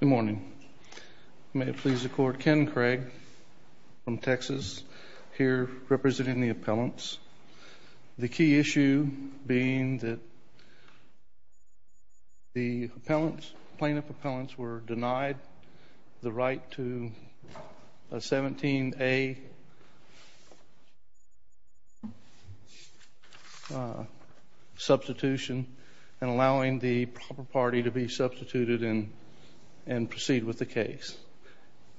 Good morning. May it please the court, Ken Craig from Texas, here representing the appellants. The key issue being that the plaintiff appellants were denied the right to a 17A substitution and allowing the proper party to be substituted and proceed with the case.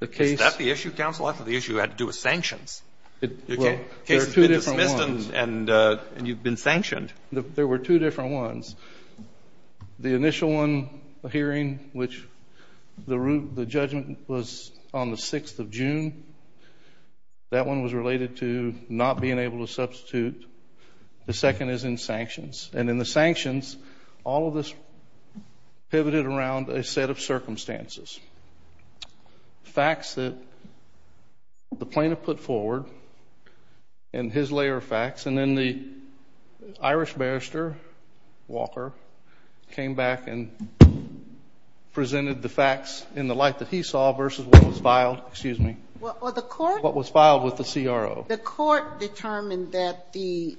Is that the issue, counsel? That's what the issue had to do with sanctions. There are two different ones. The case has been dismissed and you've been sanctioned. There were two different ones. The initial one, the hearing, which the judgment was on the 6th of June, that one was related to not being able to substitute. The second is in sanctions. And in the sanctions, all of this pivoted around a set of circumstances. Facts that the plaintiff put forward and his layer of facts, and then the Irish barrister, Walker, came back and presented the facts in the light that he saw versus what was filed with the CRO. The court determined that the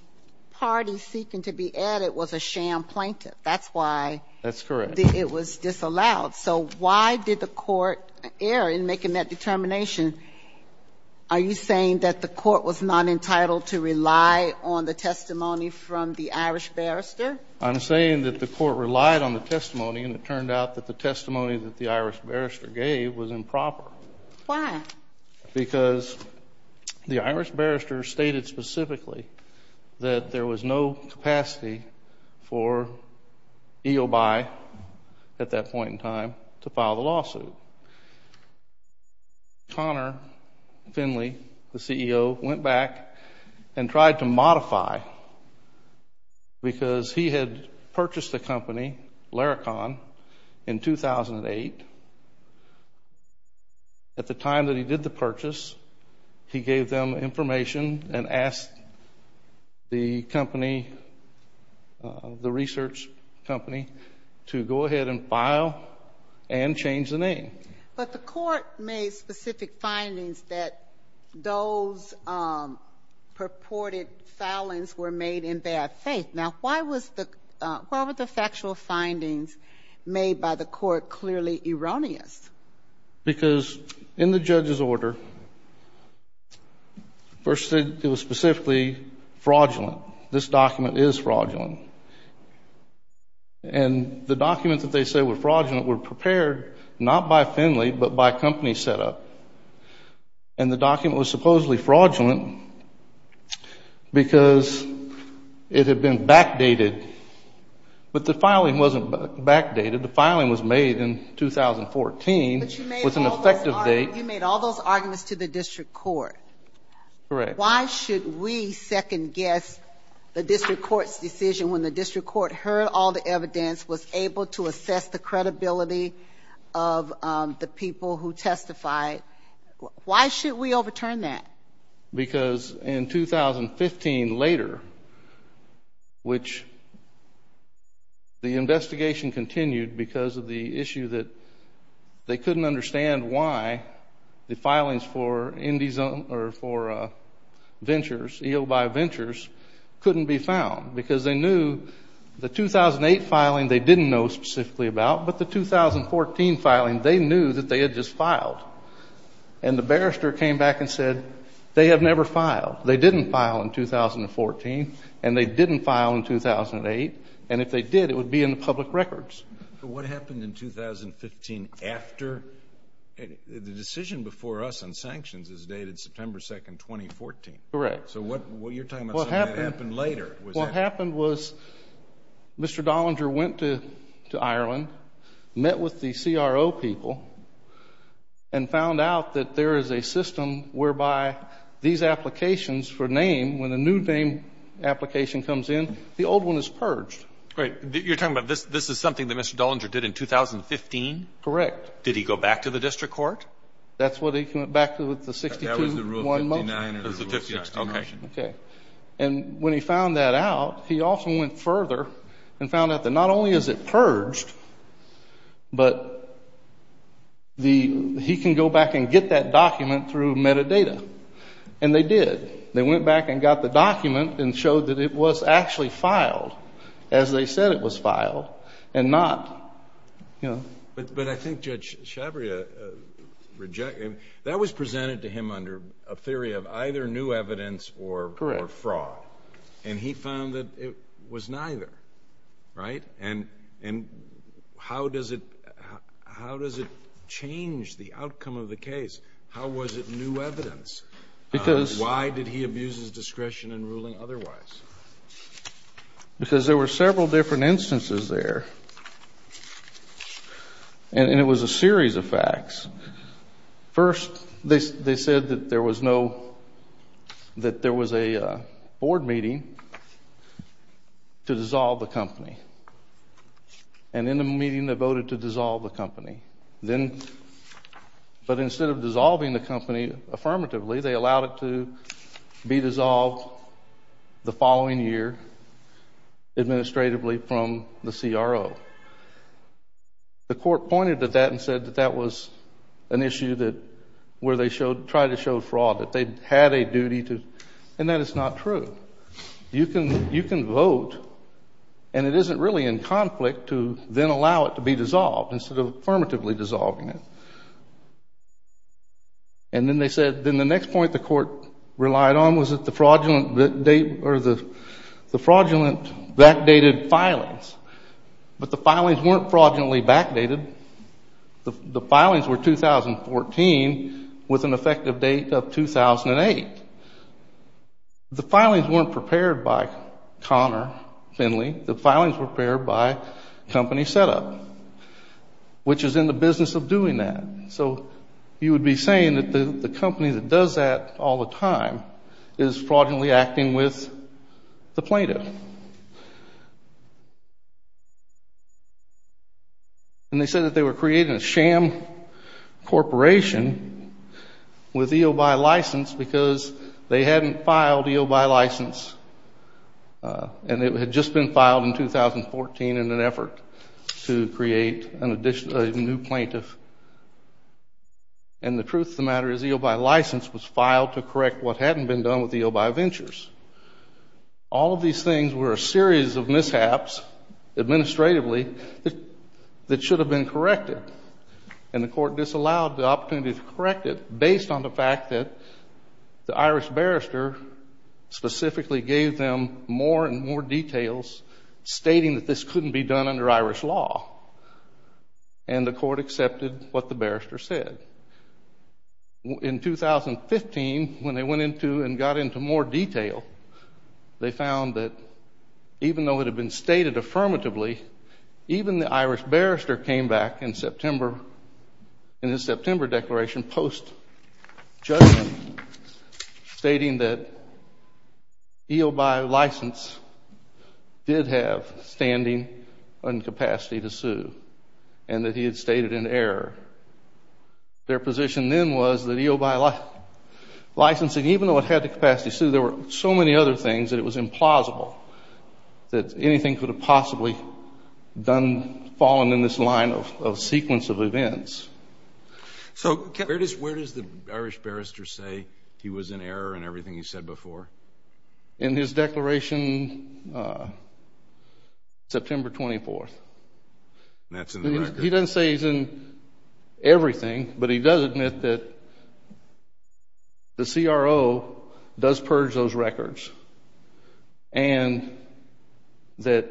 party seeking to be added was a sham plaintiff. That's why it was disallowed. So why did the court err in making that determination? Are you saying that the court was not entitled to rely on the testimony from the Irish barrister? I'm saying that the court relied on the testimony and it turned out that the testimony that the Irish barrister gave was improper. Why? Because the Irish barrister stated specifically that there was no capacity for EOBi at that point in time to file the lawsuit. Connor Finley, the CEO, went back and tried to modify because he had purchased the company, Laricon, in 2008. At the time that he did the purchase, he gave them information and asked the company, the research company, to go ahead and file and change the name. But the court made specific findings that those purported foulings were made in bad faith. Now, why were the factual findings made by the court clearly erroneous? Because in the judge's order, first it was specifically fraudulent. This document is fraudulent. And the documents that they say were fraudulent were prepared not by Finley but by a company set up. And the document was supposedly fraudulent because it had been backdated. But the filing wasn't backdated. The filing was made in 2014 with an effective date. But you made all those arguments to the district court. Correct. Why should we second guess the district court's decision when the district court heard all the evidence, was able to assess the credibility of the people who testified? Why should we overturn that? Because in 2015 later, which the investigation continued because of the issue that they couldn't understand why the filings for Indy Zone or for Ventures, EOBi Ventures, couldn't be found. Because they knew the 2008 filing they didn't know specifically about. But the 2014 filing, they knew that they had just filed. And the barrister came back and said, they have never filed. They didn't file in 2014. And they didn't file in 2008. And if they did, it would be in the public records. But what happened in 2015 after? The decision before us on sanctions is dated September 2, 2014. Correct. So what you're talking about is something that happened later. What happened was Mr. Dollinger went to Ireland, met with the CRO people, and found out that there is a system whereby these applications for name, when a new name application comes in, the old one is purged. You're talking about this is something that Mr. Dollinger did in 2015? Correct. Did he go back to the district court? That's what he went back to with the 62-1 motion. That was the Rule 59. Okay. And when he found that out, he also went further and found out that not only is it purged, but he can go back and get that document through metadata. And they did. They went back and got the document and showed that it was actually filed as they said it was filed and not, you know. But I think Judge Shabria, that was presented to him under a theory of either new evidence or fraud. And he found that it was neither. Right? And how does it change the outcome of the case? How was it new evidence? Why did he abuse his discretion in ruling otherwise? Because there were several different instances there. And it was a series of facts. First, they said that there was no, that there was a board meeting to dissolve the company. And in the meeting, they voted to dissolve the company. Then, but instead of dissolving the company affirmatively, they allowed it to be dissolved the following year administratively from the CRO. The court pointed to that and said that that was an issue that where they tried to show fraud, that they had a duty to. And that is not true. You can vote and it isn't really in conflict to then allow it to be dissolved instead of affirmatively dissolving it. And then they said, then the next point the court relied on was that the fraudulent backdated filings. But the filings weren't fraudulently backdated. The filings were 2014 with an effective date of 2008. The filings weren't prepared by Connor Finley. The filings were prepared by Company Setup, which is in the business of doing that. So you would be saying that the company that does that all the time is fraudulently acting with the plaintiff. And they said that they were creating a sham corporation with EOBi license because they hadn't filed EOBi license. And it had just been filed in 2014 in an effort to create a new plaintiff. And the truth of the matter is EOBi license was filed to correct what hadn't been done with EOBi Ventures. All of these things were a series of mishaps administratively that should have been corrected. And the court disallowed the opportunity to correct it based on the fact that the Irish barrister specifically gave them more and more details stating that this couldn't be done under Irish law. And the court accepted what the barrister said. In 2015, when they went into and got into more detail, they found that even though it had been stated affirmatively, even the Irish barrister came back in his September declaration post-judgment stating that EOBi license did have standing and capacity to sue and that he had stated an error. Their position then was that EOBi licensing, even though it had the capacity to sue, there were so many other things that it was implausible that anything could have possibly done, fallen in this line of sequence of events. So where does the Irish barrister say he was in error in everything he said before? In his declaration September 24th. He doesn't say he's in everything, but he does admit that the CRO does purge those records and that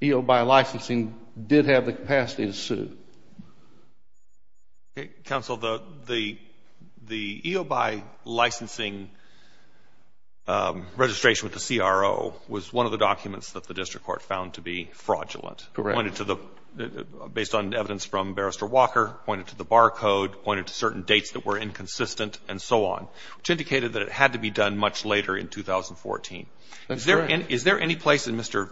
EOBi licensing did have the capacity to sue. Counsel, the EOBi licensing registration with the CRO was one of the documents that the district court found to be fraudulent. Correct. Based on evidence from Barrister Walker, pointed to the bar code, pointed to certain dates that were inconsistent, and so on, which indicated that it had to be done much later in 2014. That's correct. Is there any place in Mr.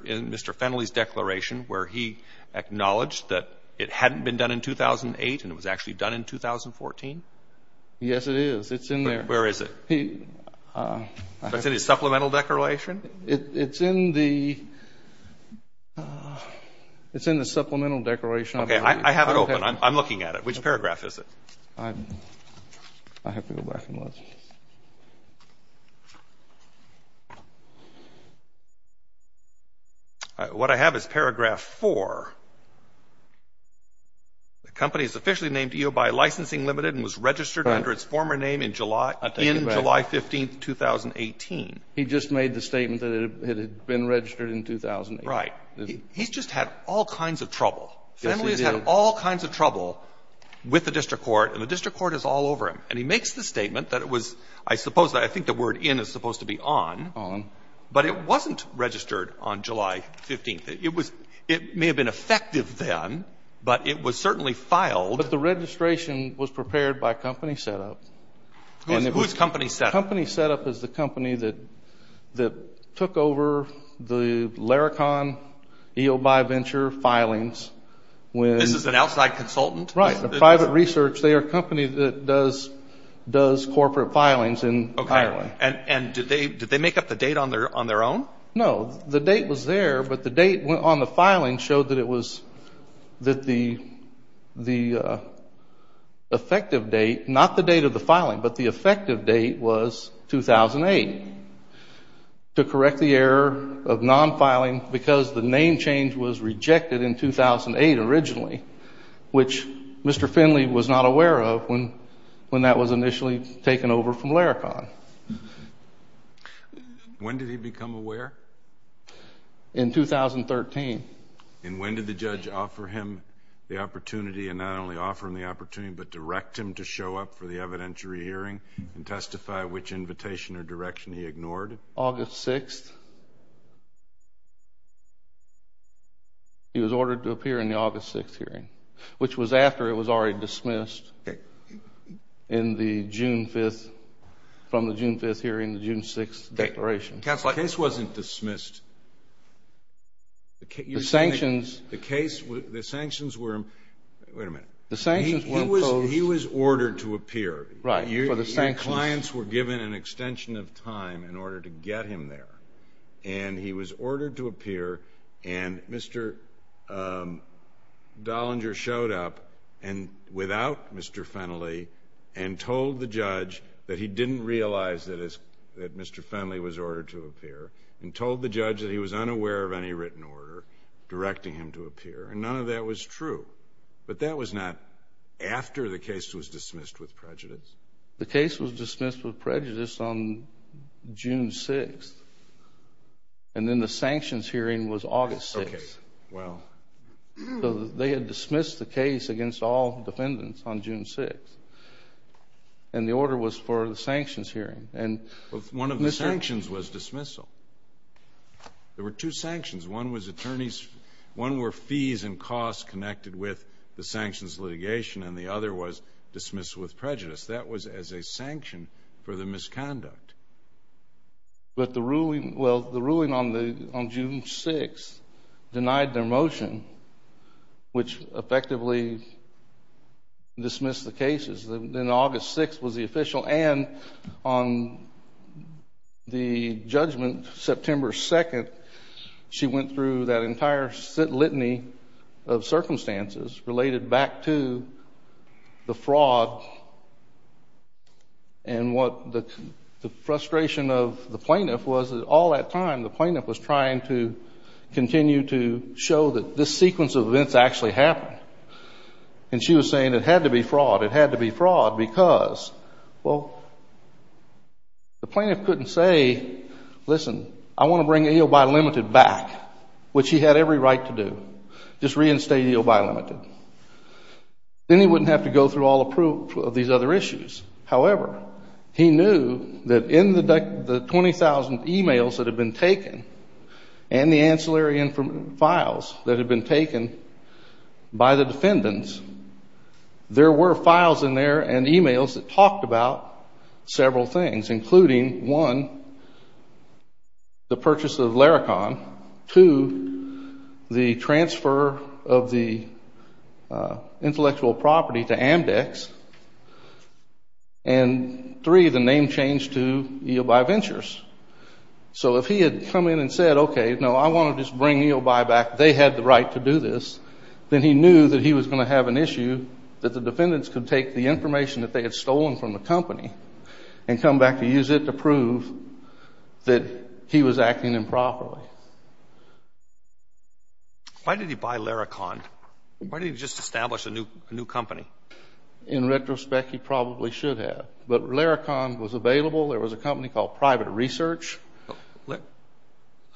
Fennelly's declaration where he acknowledged that it hadn't been done in 2008 and it was actually done in 2014? Yes, it is. It's in there. Where is it? It's in his supplemental declaration? It's in the supplemental declaration. Okay. I have it open. I'm looking at it. Which paragraph is it? I have to go back and look. What I have is paragraph 4. The company is officially named EOBi Licensing Ltd. and was registered under its former name in July 15, 2018. He just made the statement that it had been registered in 2008. Right. He's just had all kinds of trouble. Fennelly's had all kinds of trouble with the district court, and the district court is all over him. And he makes the statement that it was, I suppose, I think the word in is supposed to be on. On. But it wasn't registered on July 15. It may have been effective then, but it was certainly filed. But the registration was prepared by Company Setup. Whose Company Setup? Company Setup is the company that took over the Laricon EOBi Venture filings. This is an outside consultant? Right. The private research. They are a company that does corporate filings in Iowa. And did they make up the date on their own? No. The date was there, but the date on the filing showed that it was, that the effective date, not the date of the filing, but the effective date was 2008, to correct the error of non-filing because the name change was rejected in 2008 originally, which Mr. Fennelly was not aware of when that was initially taken over from Laricon. When did he become aware? In 2013. And when did the judge offer him the opportunity, and not only offer him the opportunity, but direct him to show up for the evidentiary hearing and testify which invitation or direction he ignored? August 6th. He was ordered to appear in the August 6th hearing, which was after it was already dismissed in the June 5th, from the June 5th hearing, the June 6th declaration. The case wasn't dismissed. The sanctions... The case, the sanctions were... Wait a minute. The sanctions were imposed... He was ordered to appear. Right. For the sanctions... Your clients were given an extension of time in order to get him there. And he was ordered to appear, and Mr. Dollinger showed up without Mr. Fennelly and told the judge that he didn't realize that Mr. Fennelly was ordered to appear, and told the judge that he was unaware of any written order directing him to appear. And none of that was true. But that was not after the case was dismissed with prejudice? The case was dismissed with prejudice on June 6th. And then the sanctions hearing was August 6th. Okay. Well... They had dismissed the case against all defendants on June 6th. And the order was for the sanctions hearing. One of the sanctions was dismissal. There were two sanctions. One was attorneys... One were fees and costs connected with the sanctions litigation, and the other was dismissal with prejudice. That was as a sanction for the misconduct. But the ruling... Which effectively dismissed the cases. Then August 6th was the official. And on the judgment, September 2nd, she went through that entire litany of circumstances related back to the fraud. And what the frustration of the plaintiff was that all that time, the plaintiff was trying to continue to show that this sequence of events actually happened. And she was saying it had to be fraud. It had to be fraud because, well, the plaintiff couldn't say, listen, I want to bring EOBi Limited back, which he had every right to do. Just reinstate EOBi Limited. Then he wouldn't have to go through all the proof of these other issues. However, he knew that in the 20,000 e-mails that had been taken and the ancillary files that had been taken by the defendants, there were files in there and e-mails that talked about several things, including, one, the purchase of Larikon, two, the transfer of the intellectual property to Amdex, and three, the name change to EOBi Ventures. So if he had come in and said, okay, no, I want to just bring EOBi back, they had the right to do this, then he knew that he was going to have an issue that the defendants could take the information that they had stolen from the company and come back to use it to prove that he was acting improperly. Why did he buy Larikon? Why didn't he just establish a new company? In retrospect, he probably should have. But Larikon was available. There was a company called Private Research.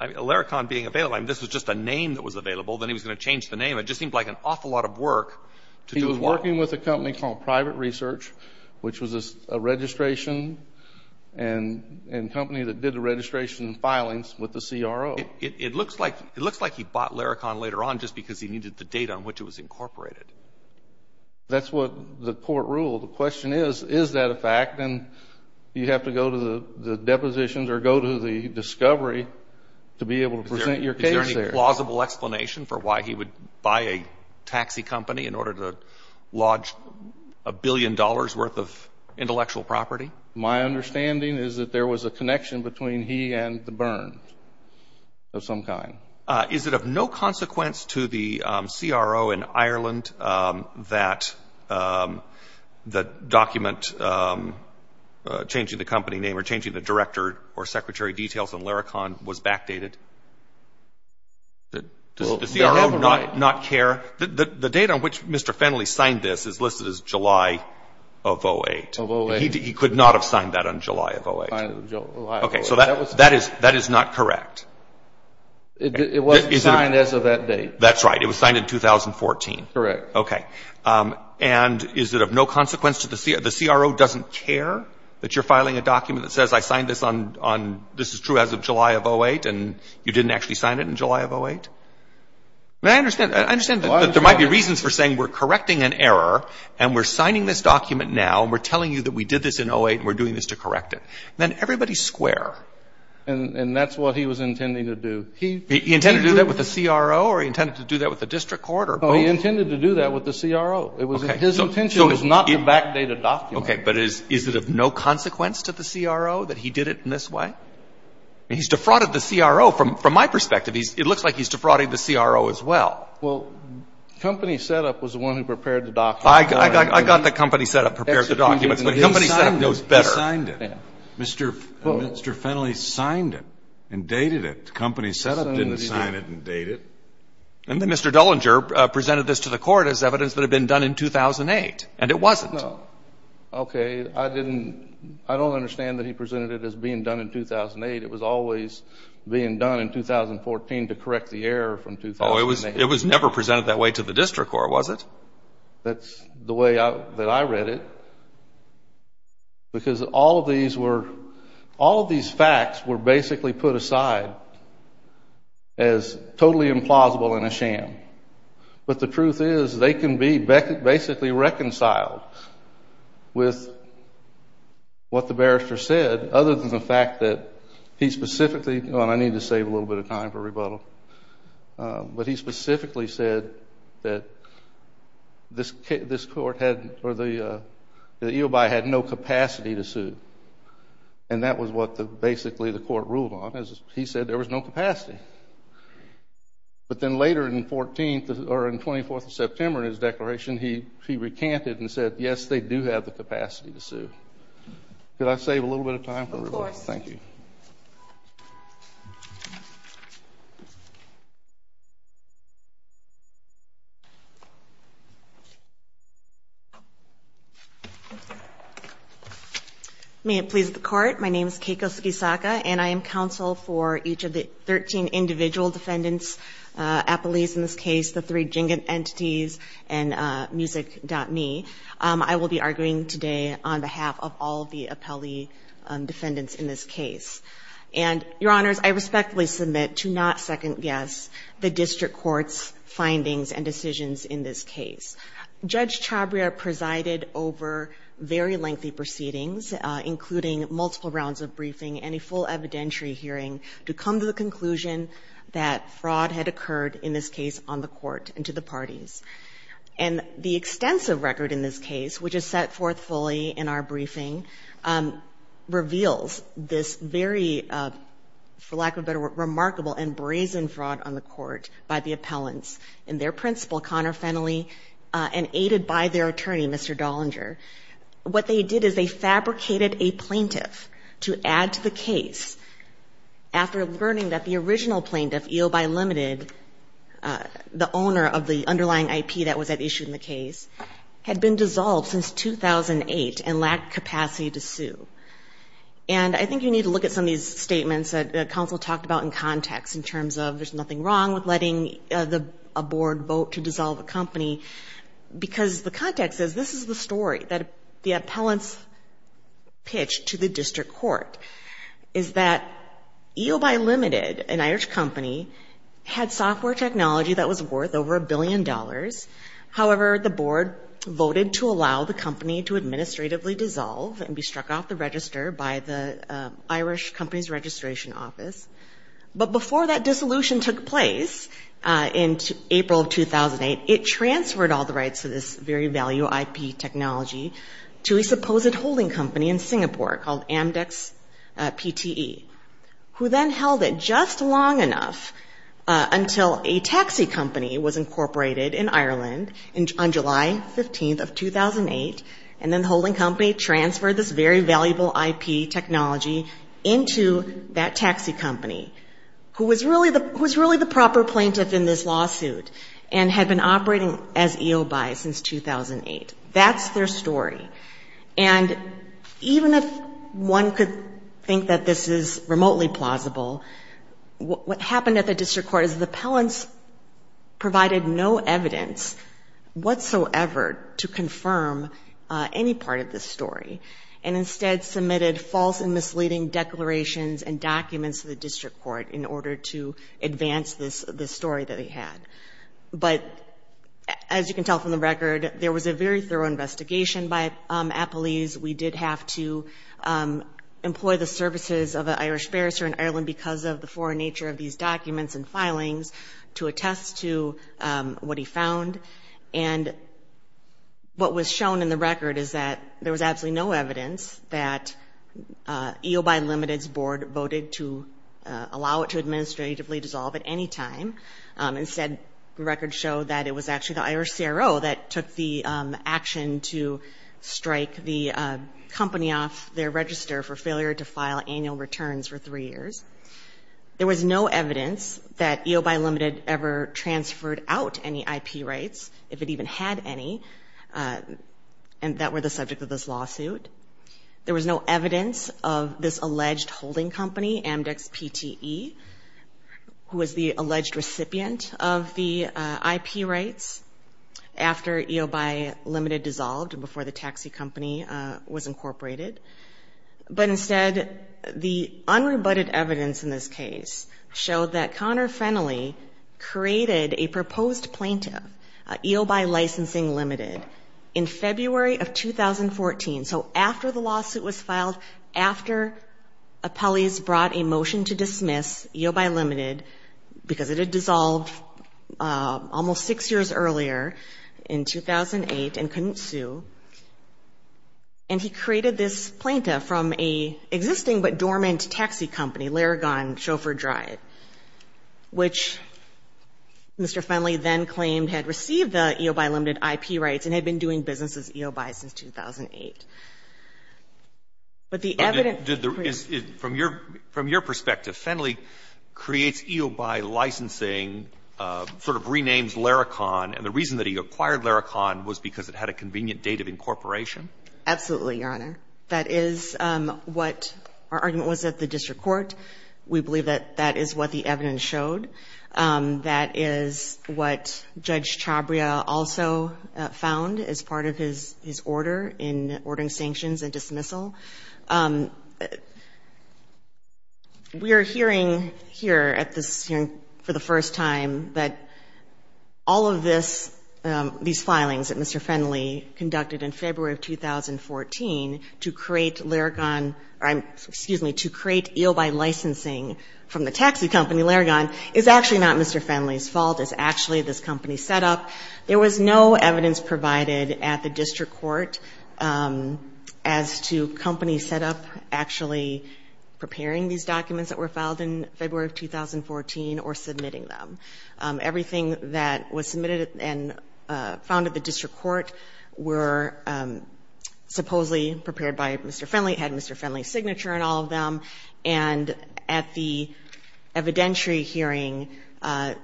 Larikon being available, I mean, this was just a name that was available. Then he was going to change the name. It just seemed like an awful lot of work to do as well. He was working with a company called Private Research, which was a registration and company that did the registration and filings with the CRO. It looks like he bought Larikon later on just because he needed the data on which it was incorporated. That's what the court ruled. The question is, is that a fact? And you have to go to the depositions or go to the discovery to be able to present your case there. Is there any plausible explanation for why he would buy a taxi company in order to lodge a billion dollars' worth of intellectual property? My understanding is that there was a connection between he and the Burns of some kind. Is it of no consequence to the CRO in Ireland that the document changing the company name or changing the director or secretary details on Larikon was backdated? Does the CRO not care? The date on which Mr. Fennelly signed this is listed as July of 2008. He could not have signed that on July of 2008. Okay, so that is not correct. It wasn't signed as of that date. That's right. It was signed in 2014. Correct. Okay. And is it of no consequence to the CRO doesn't care that you're filing a document that says, I signed this on, this is true as of July of 2008, and you didn't actually sign it in July of 2008? I understand that there might be reasons for saying we're correcting an error and we're signing this document now and we're telling you that we did this in 2008 and we're doing this to correct it. Then everybody's square. And that's what he was intending to do. He intended to do that with the CRO or he intended to do that with the district court or both? He intended to do that with the CRO. His intention was not to backdate a document. Okay, but is it of no consequence to the CRO that he did it in this way? He's defrauded the CRO. From my perspective, it looks like he's defrauding the CRO as well. Well, Company Setup was the one who prepared the documents. I got that Company Setup prepared the documents, but Company Setup knows better. He signed it. Mr. Fennelly signed it and dated it. Company Setup didn't sign it and date it. And then Mr. Dullinger presented this to the court as evidence that it had been done in 2008, and it wasn't. No. Okay, I don't understand that he presented it as being done in 2008. It was always being done in 2014 to correct the error from 2008. No, it was never presented that way to the district court, was it? That's the way that I read it. Because all of these facts were basically put aside as totally implausible and a sham. But the truth is they can be basically reconciled with what the barrister said, other than the fact that he specifically, and I need to save a little bit of time for rebuttal, but he specifically said that this court had or the EOBI had no capacity to sue. And that was what basically the court ruled on. He said there was no capacity. But then later in 14th or in 24th of September in his declaration, he recanted and said, yes, they do have the capacity to sue. Could I save a little bit of time for rebuttal? Of course. Thank you. May it please the court. My name is Keiko Sugisaka, and I am counsel for each of the 13 individual defendants, appellees in this case, the three jingan entities, and Music.me. I will be arguing today on behalf of all of the appellee defendants in this case. And, your honors, I respectfully submit to not second guess the district court's findings and decisions in this case. Judge Chabria presided over very lengthy proceedings, including multiple rounds of briefing and a full evidentiary hearing to come to the conclusion that fraud had occurred in this case on the court and to the parties. And the extensive record in this case, which is set forth fully in our briefing, reveals this very, for lack of a better word, remarkable and brazen fraud on the court by the appellants and their principal, Connor Fennelly, and aided by their attorney, Mr. Dollinger. What they did is they fabricated a plaintiff to add to the case after learning that the original plaintiff, EOBi Limited, the owner of the underlying IP that was at issue in the case, had been dissolved since 2008 and lacked capacity to sue. And I think you need to look at some of these statements that counsel talked about in context in terms of there's nothing wrong with letting a board vote to dissolve a company, because the context is this is the story that the appellants pitched to the district court, is that EOBi Limited, an Irish company, had software technology that was worth over a billion dollars. However, the board voted to allow the company to administratively dissolve and be struck off the register by the Irish company's registration office. But before that dissolution took place in April of 2008, it transferred all the rights to this very value IP technology to a supposed holding company in Singapore called Amdex PTE, who then held it just long enough until a taxi company was incorporated in Ireland on July 15th of 2008, and then the holding company transferred this very valuable IP technology into that taxi company, who was really the proper plaintiff in this lawsuit and had been operating as EOBi since 2008. That's their story. And even if one could think that this is remotely plausible, what happened at the district court is the appellants provided no evidence whatsoever to confirm any part of this story, and instead submitted false and misleading declarations and documents to the district court in order to advance this story that they had. But as you can tell from the record, there was a very thorough investigation by appellees. We did have to employ the services of an Irish barrister in Ireland because of the foreign nature of these documents and filings to attest to what he found. And what was shown in the record is that there was absolutely no evidence that EOBi Limited's board voted to allow it to administratively dissolve at any time. Instead, the record showed that it was actually the Irish CRO that took the action to strike the company off their register for failure to file annual returns for three years. There was no evidence that EOBi Limited ever transferred out any IP rights, if it even had any, that were the subject of this lawsuit. There was no evidence of this alleged holding company, Amdex PTE, who was the alleged recipient of the IP rights after EOBi Limited dissolved and before the taxi company was incorporated. But instead, the unrebutted evidence in this case showed that Connor Fennelly created a proposed plaintiff, EOBi Licensing Limited, in February of 2014. So after the lawsuit was filed, after appellees brought a motion to dismiss EOBi Limited, because it had dissolved almost six years earlier in 2008 and couldn't sue, and he created this plaintiff from an existing but dormant taxi company, Laragon Chauffeur Drive, which Mr. Fennelly then claimed had received the EOBi Limited IP rights and had been doing business as EOBi since 2008. From your perspective, Fennelly creates EOBi Licensing, sort of renames Laragon, and the reason that he acquired Laragon was because it had a convenient date of incorporation? Absolutely, Your Honor. That is what our argument was at the district court. We believe that that is what the evidence showed. That is what Judge Chabria also found as part of his order in ordering sanctions and dismissal. We are hearing here at this hearing for the first time that all of this, these filings that Mr. Fennelly conducted in February of 2014 to create Laragon, or excuse me, to create EOBi Licensing from the taxi company Laragon, is actually not Mr. Fennelly's fault. It's actually this company's setup. There was no evidence provided at the district court as to companies set up actually preparing these documents that were filed in February of 2014 or submitting them. Everything that was submitted and found at the district court were supposedly prepared by Mr. Fennelly, had Mr. Fennelly's signature on all of them, and at the evidentiary hearing, Mr.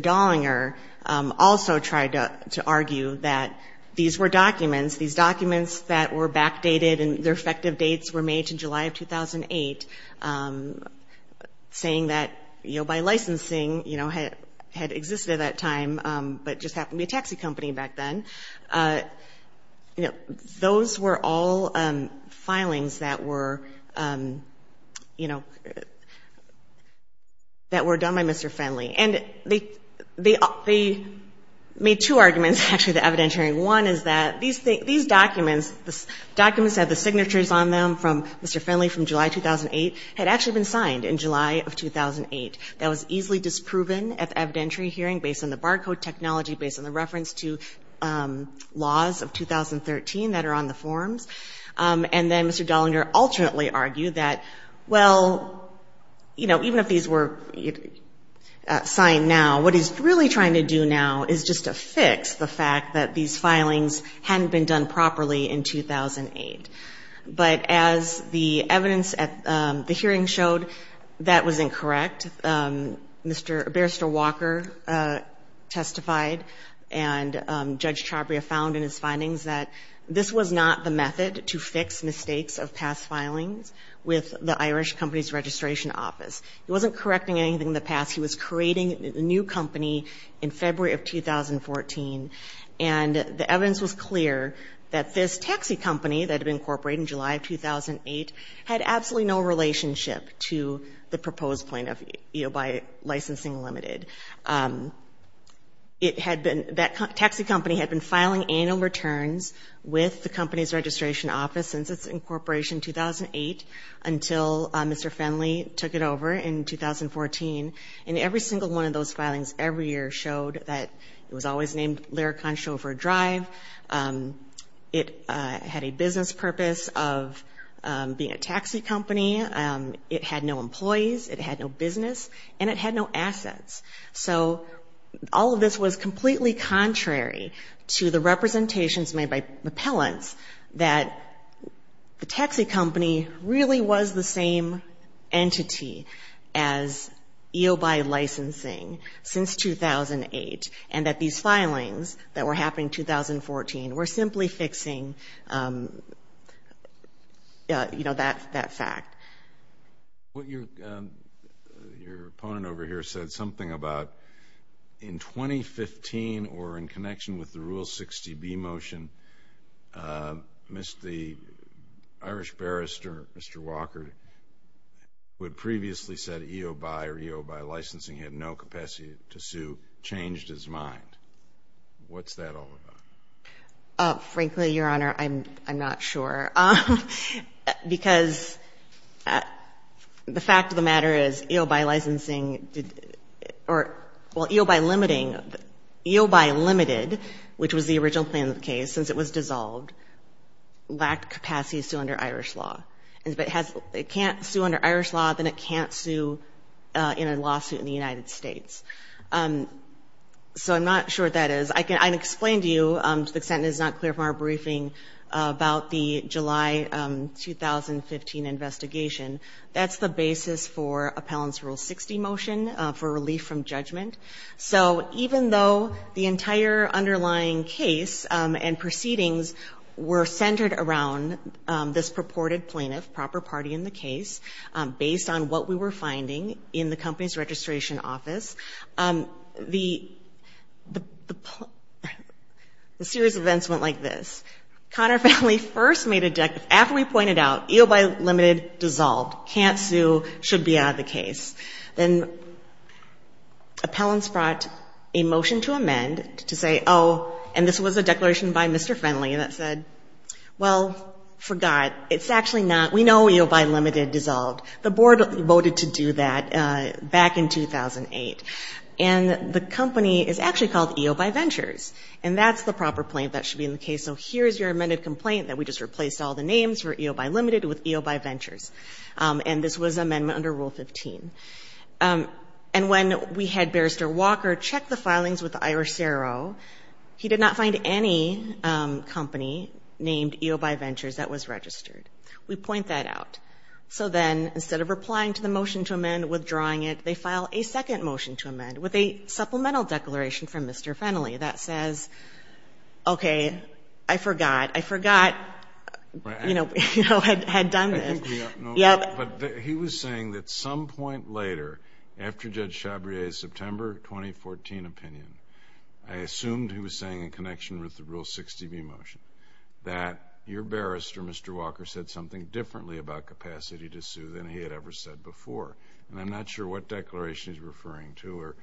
Dollinger also tried to argue that these were documents, these documents that were backdated, and their effective dates were made to July of 2008, saying that EOBi Licensing, you know, had existed at that time, but just happened to be a taxi company back then. You know, those were all filings that were, you know, that were done by Mr. Fennelly. And they made two arguments, actually, at the evidentiary. One is that these documents, the documents that had the signatures on them from Mr. Fennelly from July 2008 had actually been signed in July of 2008. That was easily disproven at the evidentiary hearing based on the barcode technology, based on the reference to laws of 2013 that are on the forms. And then Mr. Dollinger alternately argued that, well, you know, even if these were signed now, what he's really trying to do now is just to fix the fact that these filings hadn't been done properly in 2008. But as the evidence at the hearing showed, that was incorrect. Mr. Barrister Walker testified, and Judge Chabria found in his findings that this was not the method to fix mistakes of past filings with the Irish Companies Registration Office. He wasn't correcting anything in the past. He was creating a new company in February of 2014, and the evidence was clear that this taxi company that had been incorporated in July of 2008 had absolutely no relationship to the proposed plan by Licensing Limited. It had been, that taxi company had been filing annual returns with the company's registration office since its incorporation in 2008 until Mr. Fennelly took it over in 2014. And every single one of those filings every year showed that it was always a taxi company. It was a company named Larry Concho for a Drive. It had a business purpose of being a taxi company. It had no employees. It had no business. And it had no assets. So all of this was completely contrary to the representations made by appellants that the taxi company really was the same entity as EOBi Licensing since 2008, and that these filings were happening in 2014. We're simply fixing that fact. Your opponent over here said something about in 2015 or in connection with the Rule 60B motion, the Irish Barrister, Mr. Walker, who had previously said EOBi or EOBi Licensing had no capacity to sue, changed his mind. What's that all about? Frankly, Your Honor, I'm not sure, because the fact of the matter is EOBi Licensing, or well, EOBi Limiting, EOBi Limited, which was the original plan of the case, since it was dissolved, lacked capacity to sue under Irish law. And if it can't sue under Irish law, then it can't sue in a lawsuit in the United States. So I'm not sure what that is. I think it's a matter of whether or not it can sue under Irish law. I can explain to you, to the extent it's not clear from our briefing, about the July 2015 investigation. That's the basis for appellants' Rule 60 motion for relief from judgment. So even though the entire underlying case and proceedings were centered around this purported plaintiff, proper party in the case, based on what we were finding in the company's registration records, the series of events went like this. Conner Fennelly first made a declaration, after we pointed out, EOBi Limited dissolved, can't sue, should be out of the case. Then appellants brought a motion to amend to say, oh, and this was a declaration by Mr. Fennelly that said, well, for God, it's actually not, we know EOBi Limited dissolved. The board voted to do that back in 2008. And the company is actually called EOBi Ventures. And the board voted to do that back in 2008. And that's the proper plaintiff that should be in the case. So here's your amended complaint that we just replaced all the names for EOBi Limited with EOBi Ventures. And this was amendment under Rule 15. And when we had Barrister Walker check the filings with the Irish CRO, he did not find any company named EOBi Ventures that was registered. We point that out. So then, instead of replying to the motion to amend, withdrawing it, they file a motion that says, okay, I forgot, I forgot, you know, had done this. But he was saying that some point later, after Judge Chabrier's September 2014 opinion, I assumed he was saying in connection with the Rule 60B motion, that your barrister, Mr. Walker, said something differently about capacity to sue than he had ever said before. And I'm not sure what declaration he's referring to or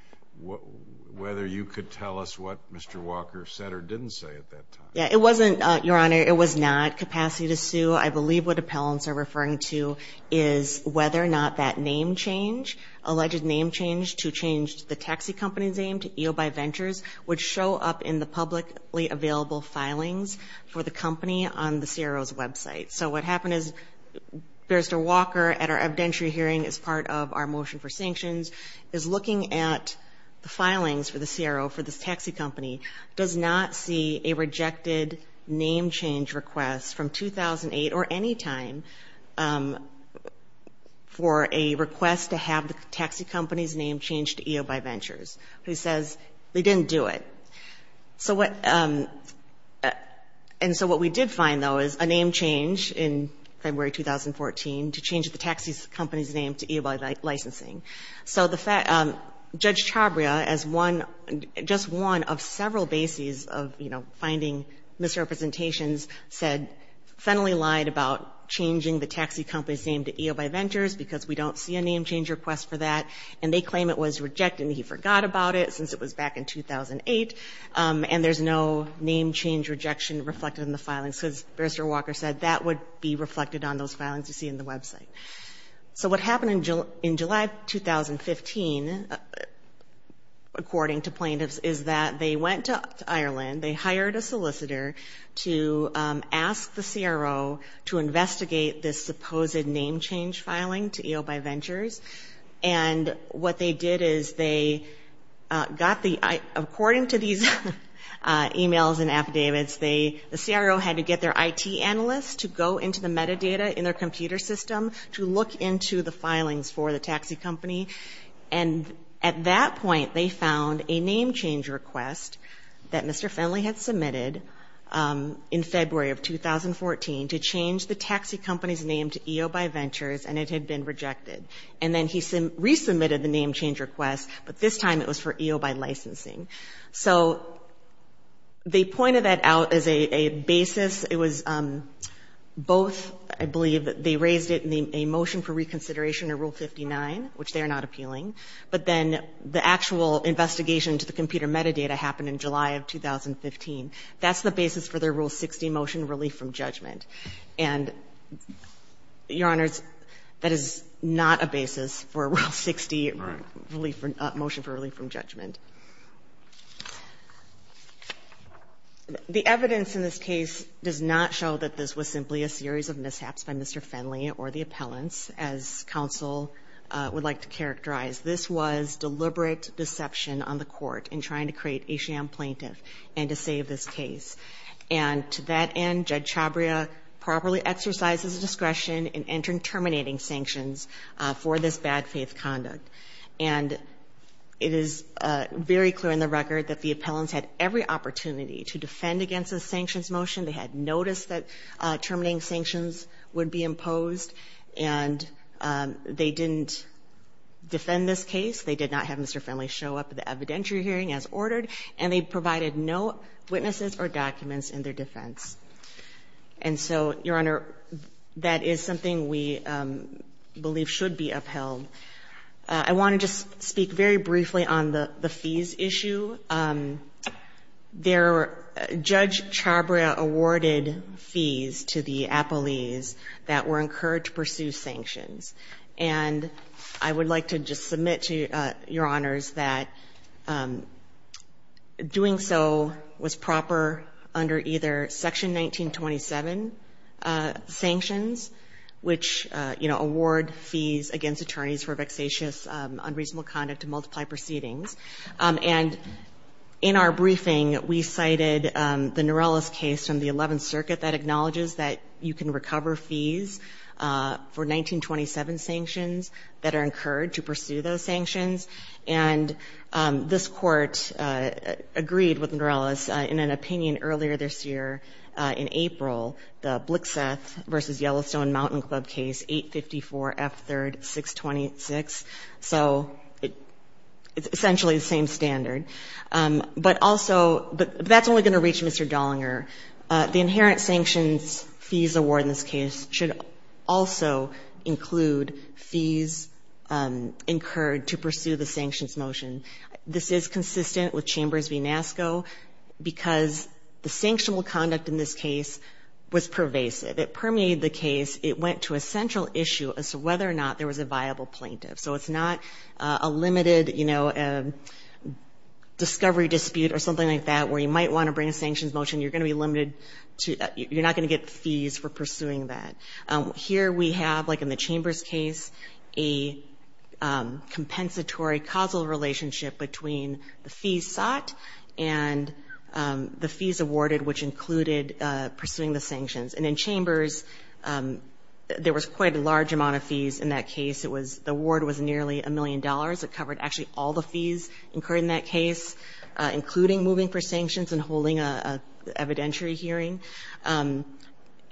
whether you could tell us what Mr. Walker said or didn't say at that time. Yeah, it wasn't, Your Honor, it was not capacity to sue. I believe what appellants are referring to is whether or not that name change, alleged name change to change the taxi company's name to EOBi Ventures, would show up in the publicly available filings for the company on the CRO's website. So what happened is Barrister Walker, at our evidentiary hearing as part of our motion for sanctions, is looking at the filings for the CRO, for this taxi company, to see whether or not that name change does not see a rejected name change request from 2008 or any time for a request to have the taxi company's name changed to EOBi Ventures, who says they didn't do it. And so what we did find, though, is a name change in February 2014 to change the taxi company's name to EOBi Licensing. So the fact, Judge Chabria, as one, just one of several bases of, you know, finding misrepresentations, said Fennelly lied about changing the taxi company's name to EOBi Ventures because we don't see a name change request for that, and they claim it was rejected and he forgot about it since it was back in 2008, and there's no name change rejection reflected in the filings, because Barrister Walker said that would be reflected on those filings you see in the website. So what happened in July 2015, according to plaintiffs, is that they went to Ireland, they hired a solicitor to ask the CRO to investigate this supposed name change filing to EOBi Ventures, and what they did is they got the, according to these e-mails and affidavits, the CRO had to get their IT analysts to go into the metadata in their computer system to find the name change request, to look into the filings for the taxi company, and at that point they found a name change request that Mr. Fennelly had submitted in February of 2014 to change the taxi company's name to EOBi Ventures, and it had been rejected. And then he resubmitted the name change request, but this time it was for EOBi Licensing. So they pointed that out as a basis. It was both, I believe, they raised it in the email, and the CRO said, well, you know, there's a motion for reconsideration in Rule 59, which they are not appealing, but then the actual investigation to the computer metadata happened in July of 2015. That's the basis for their Rule 60 motion, relief from judgment. And, Your Honors, that is not a basis for Rule 60 motion for relief from judgment. The evidence in this case does not show that this was simply a series of mishaps by Mr. Fennelly or the appellant. As counsel would like to characterize, this was deliberate deception on the court in trying to create a sham plaintiff, and to save this case. And to that end, Judge Chabria properly exercised his discretion in entering terminating sanctions for this bad faith conduct. And it is very clear in the record that the appellants had every opportunity to defend against the sanctions motion. They had noticed that terminating sanctions would be imposed, and the appellants had every opportunity to defend against the sanctions motion. And they didn't defend this case. They did not have Mr. Fennelly show up at the evidentiary hearing as ordered, and they provided no witnesses or documents in their defense. And so, Your Honor, that is something we believe should be upheld. I want to just speak very briefly on the fees issue. Judge Chabria awarded fees to the appellees that were encouraged to pursue sanctions. And I would like to just submit to Your Honors that doing so was proper under either Section 1927 sanctions, which, you know, award fees against attorneys for vexatious, unreasonable conduct to multiply proceedings. And in our briefing, we cited the Norellis case from the Eleventh Circuit that acknowledges that you can recover fees for 1927 sanctions that are incurred to pursue those sanctions. And this Court agreed with Norellis in an opinion earlier this year, in April, the Blixeth v. Yellowstone Mountain Club case, 854 F. 3rd. 626. So it's essentially the same standard. But also, that's only going to reach Mr. Dollinger. The inherent sanctions fees award in this case should also include fees incurred to pursue the sanctions motion. This is consistent with Chambers v. NASCO, because the sanctionable conduct in this case was pervasive. It permeated the case. It went to a central issue as to whether or not there was a viable plaintiff. So it's not a limited, you know, discovery dispute or something like that, where you might want to bring a sanctions motion. You're going to be limited to, you're not going to get fees for pursuing that. Here we have, like in the Chambers case, a compensatory causal relationship between the fees sought and the fees awarded, which included pursuing the sanctions. And in Chambers, there was quite a large amount of fees in that case. It was, the award was nearly a million dollars. It covered actually all the fees incurred in that case, including moving for this evidentiary hearing.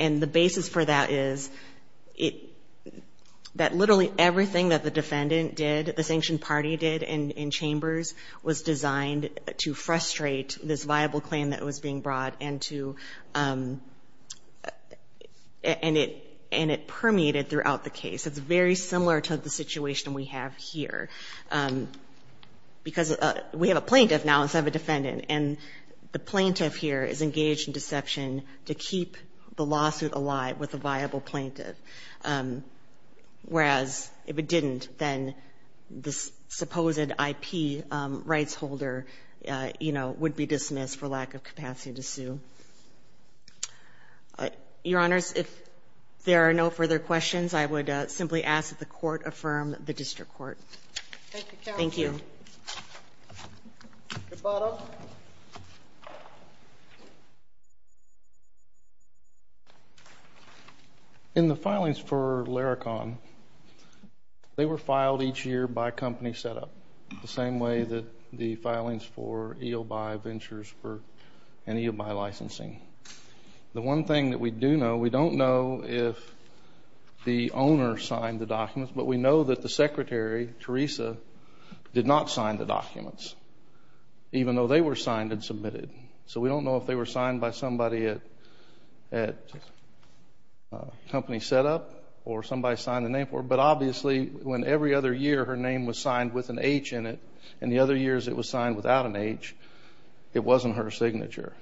And the basis for that is that literally everything that the defendant did, the sanctioned party did in Chambers, was designed to frustrate this viable claim that was being brought and to, and it permeated throughout the case. It's very similar to the situation we have here, because we have a plaintiff now instead of a defendant. And the plaintiff here is engaged in deception to keep the lawsuit alive with a viable plaintiff. Whereas if it didn't, then this supposed IP rights holder, you know, would be dismissed for lack of capacity to sue. Your Honors, if there are no further questions, I would simply ask that the Court affirm the District Court. Thank you, Counsel. Thank you. In the filings for Laracon, they were filed each year by company setup, the same way that the filings for EOBI Ventures were in EOBI licensing. The one thing that we do know, we don't know if the owner signed the documents, but we know that the Secretary, Teresa, did not sign the documents, even though they were signed and submitted. So we don't know if they were signed by somebody at company setup or somebody signed a name for it. But obviously, when every other year her name was signed with an H in it, and the other years it was signed without an H, it wasn't her signature.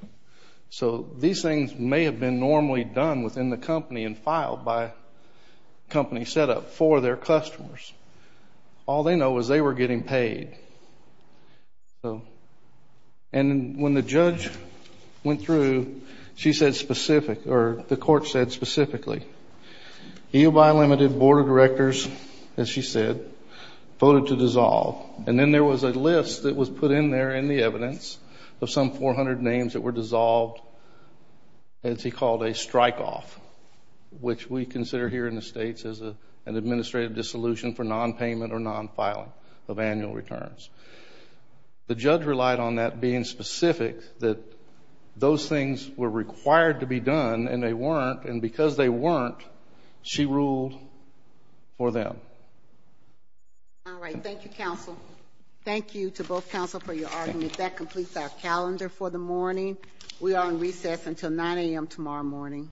So these things may have been normally done within the company and filed by company setup for their customers. All they know is they were getting paid. And when the judge went through, she said specific, or the Court said specifically, EOBI Limited Board of Directors, as she said, voted to dissolve. And then there was a list that was put in there in the evidence of some 400 names that were dissolved, as he called a strike off, which we consider here in the States as an administrative dissolution for nonpayment or nonpayment. So it was a non-filing of annual returns. The judge relied on that being specific, that those things were required to be done, and they weren't. And because they weren't, she ruled for them. All right. Thank you, counsel. Thank you to both counsel for your argument. That completes our calendar for the morning. We are on recess until 9 a.m. tomorrow morning.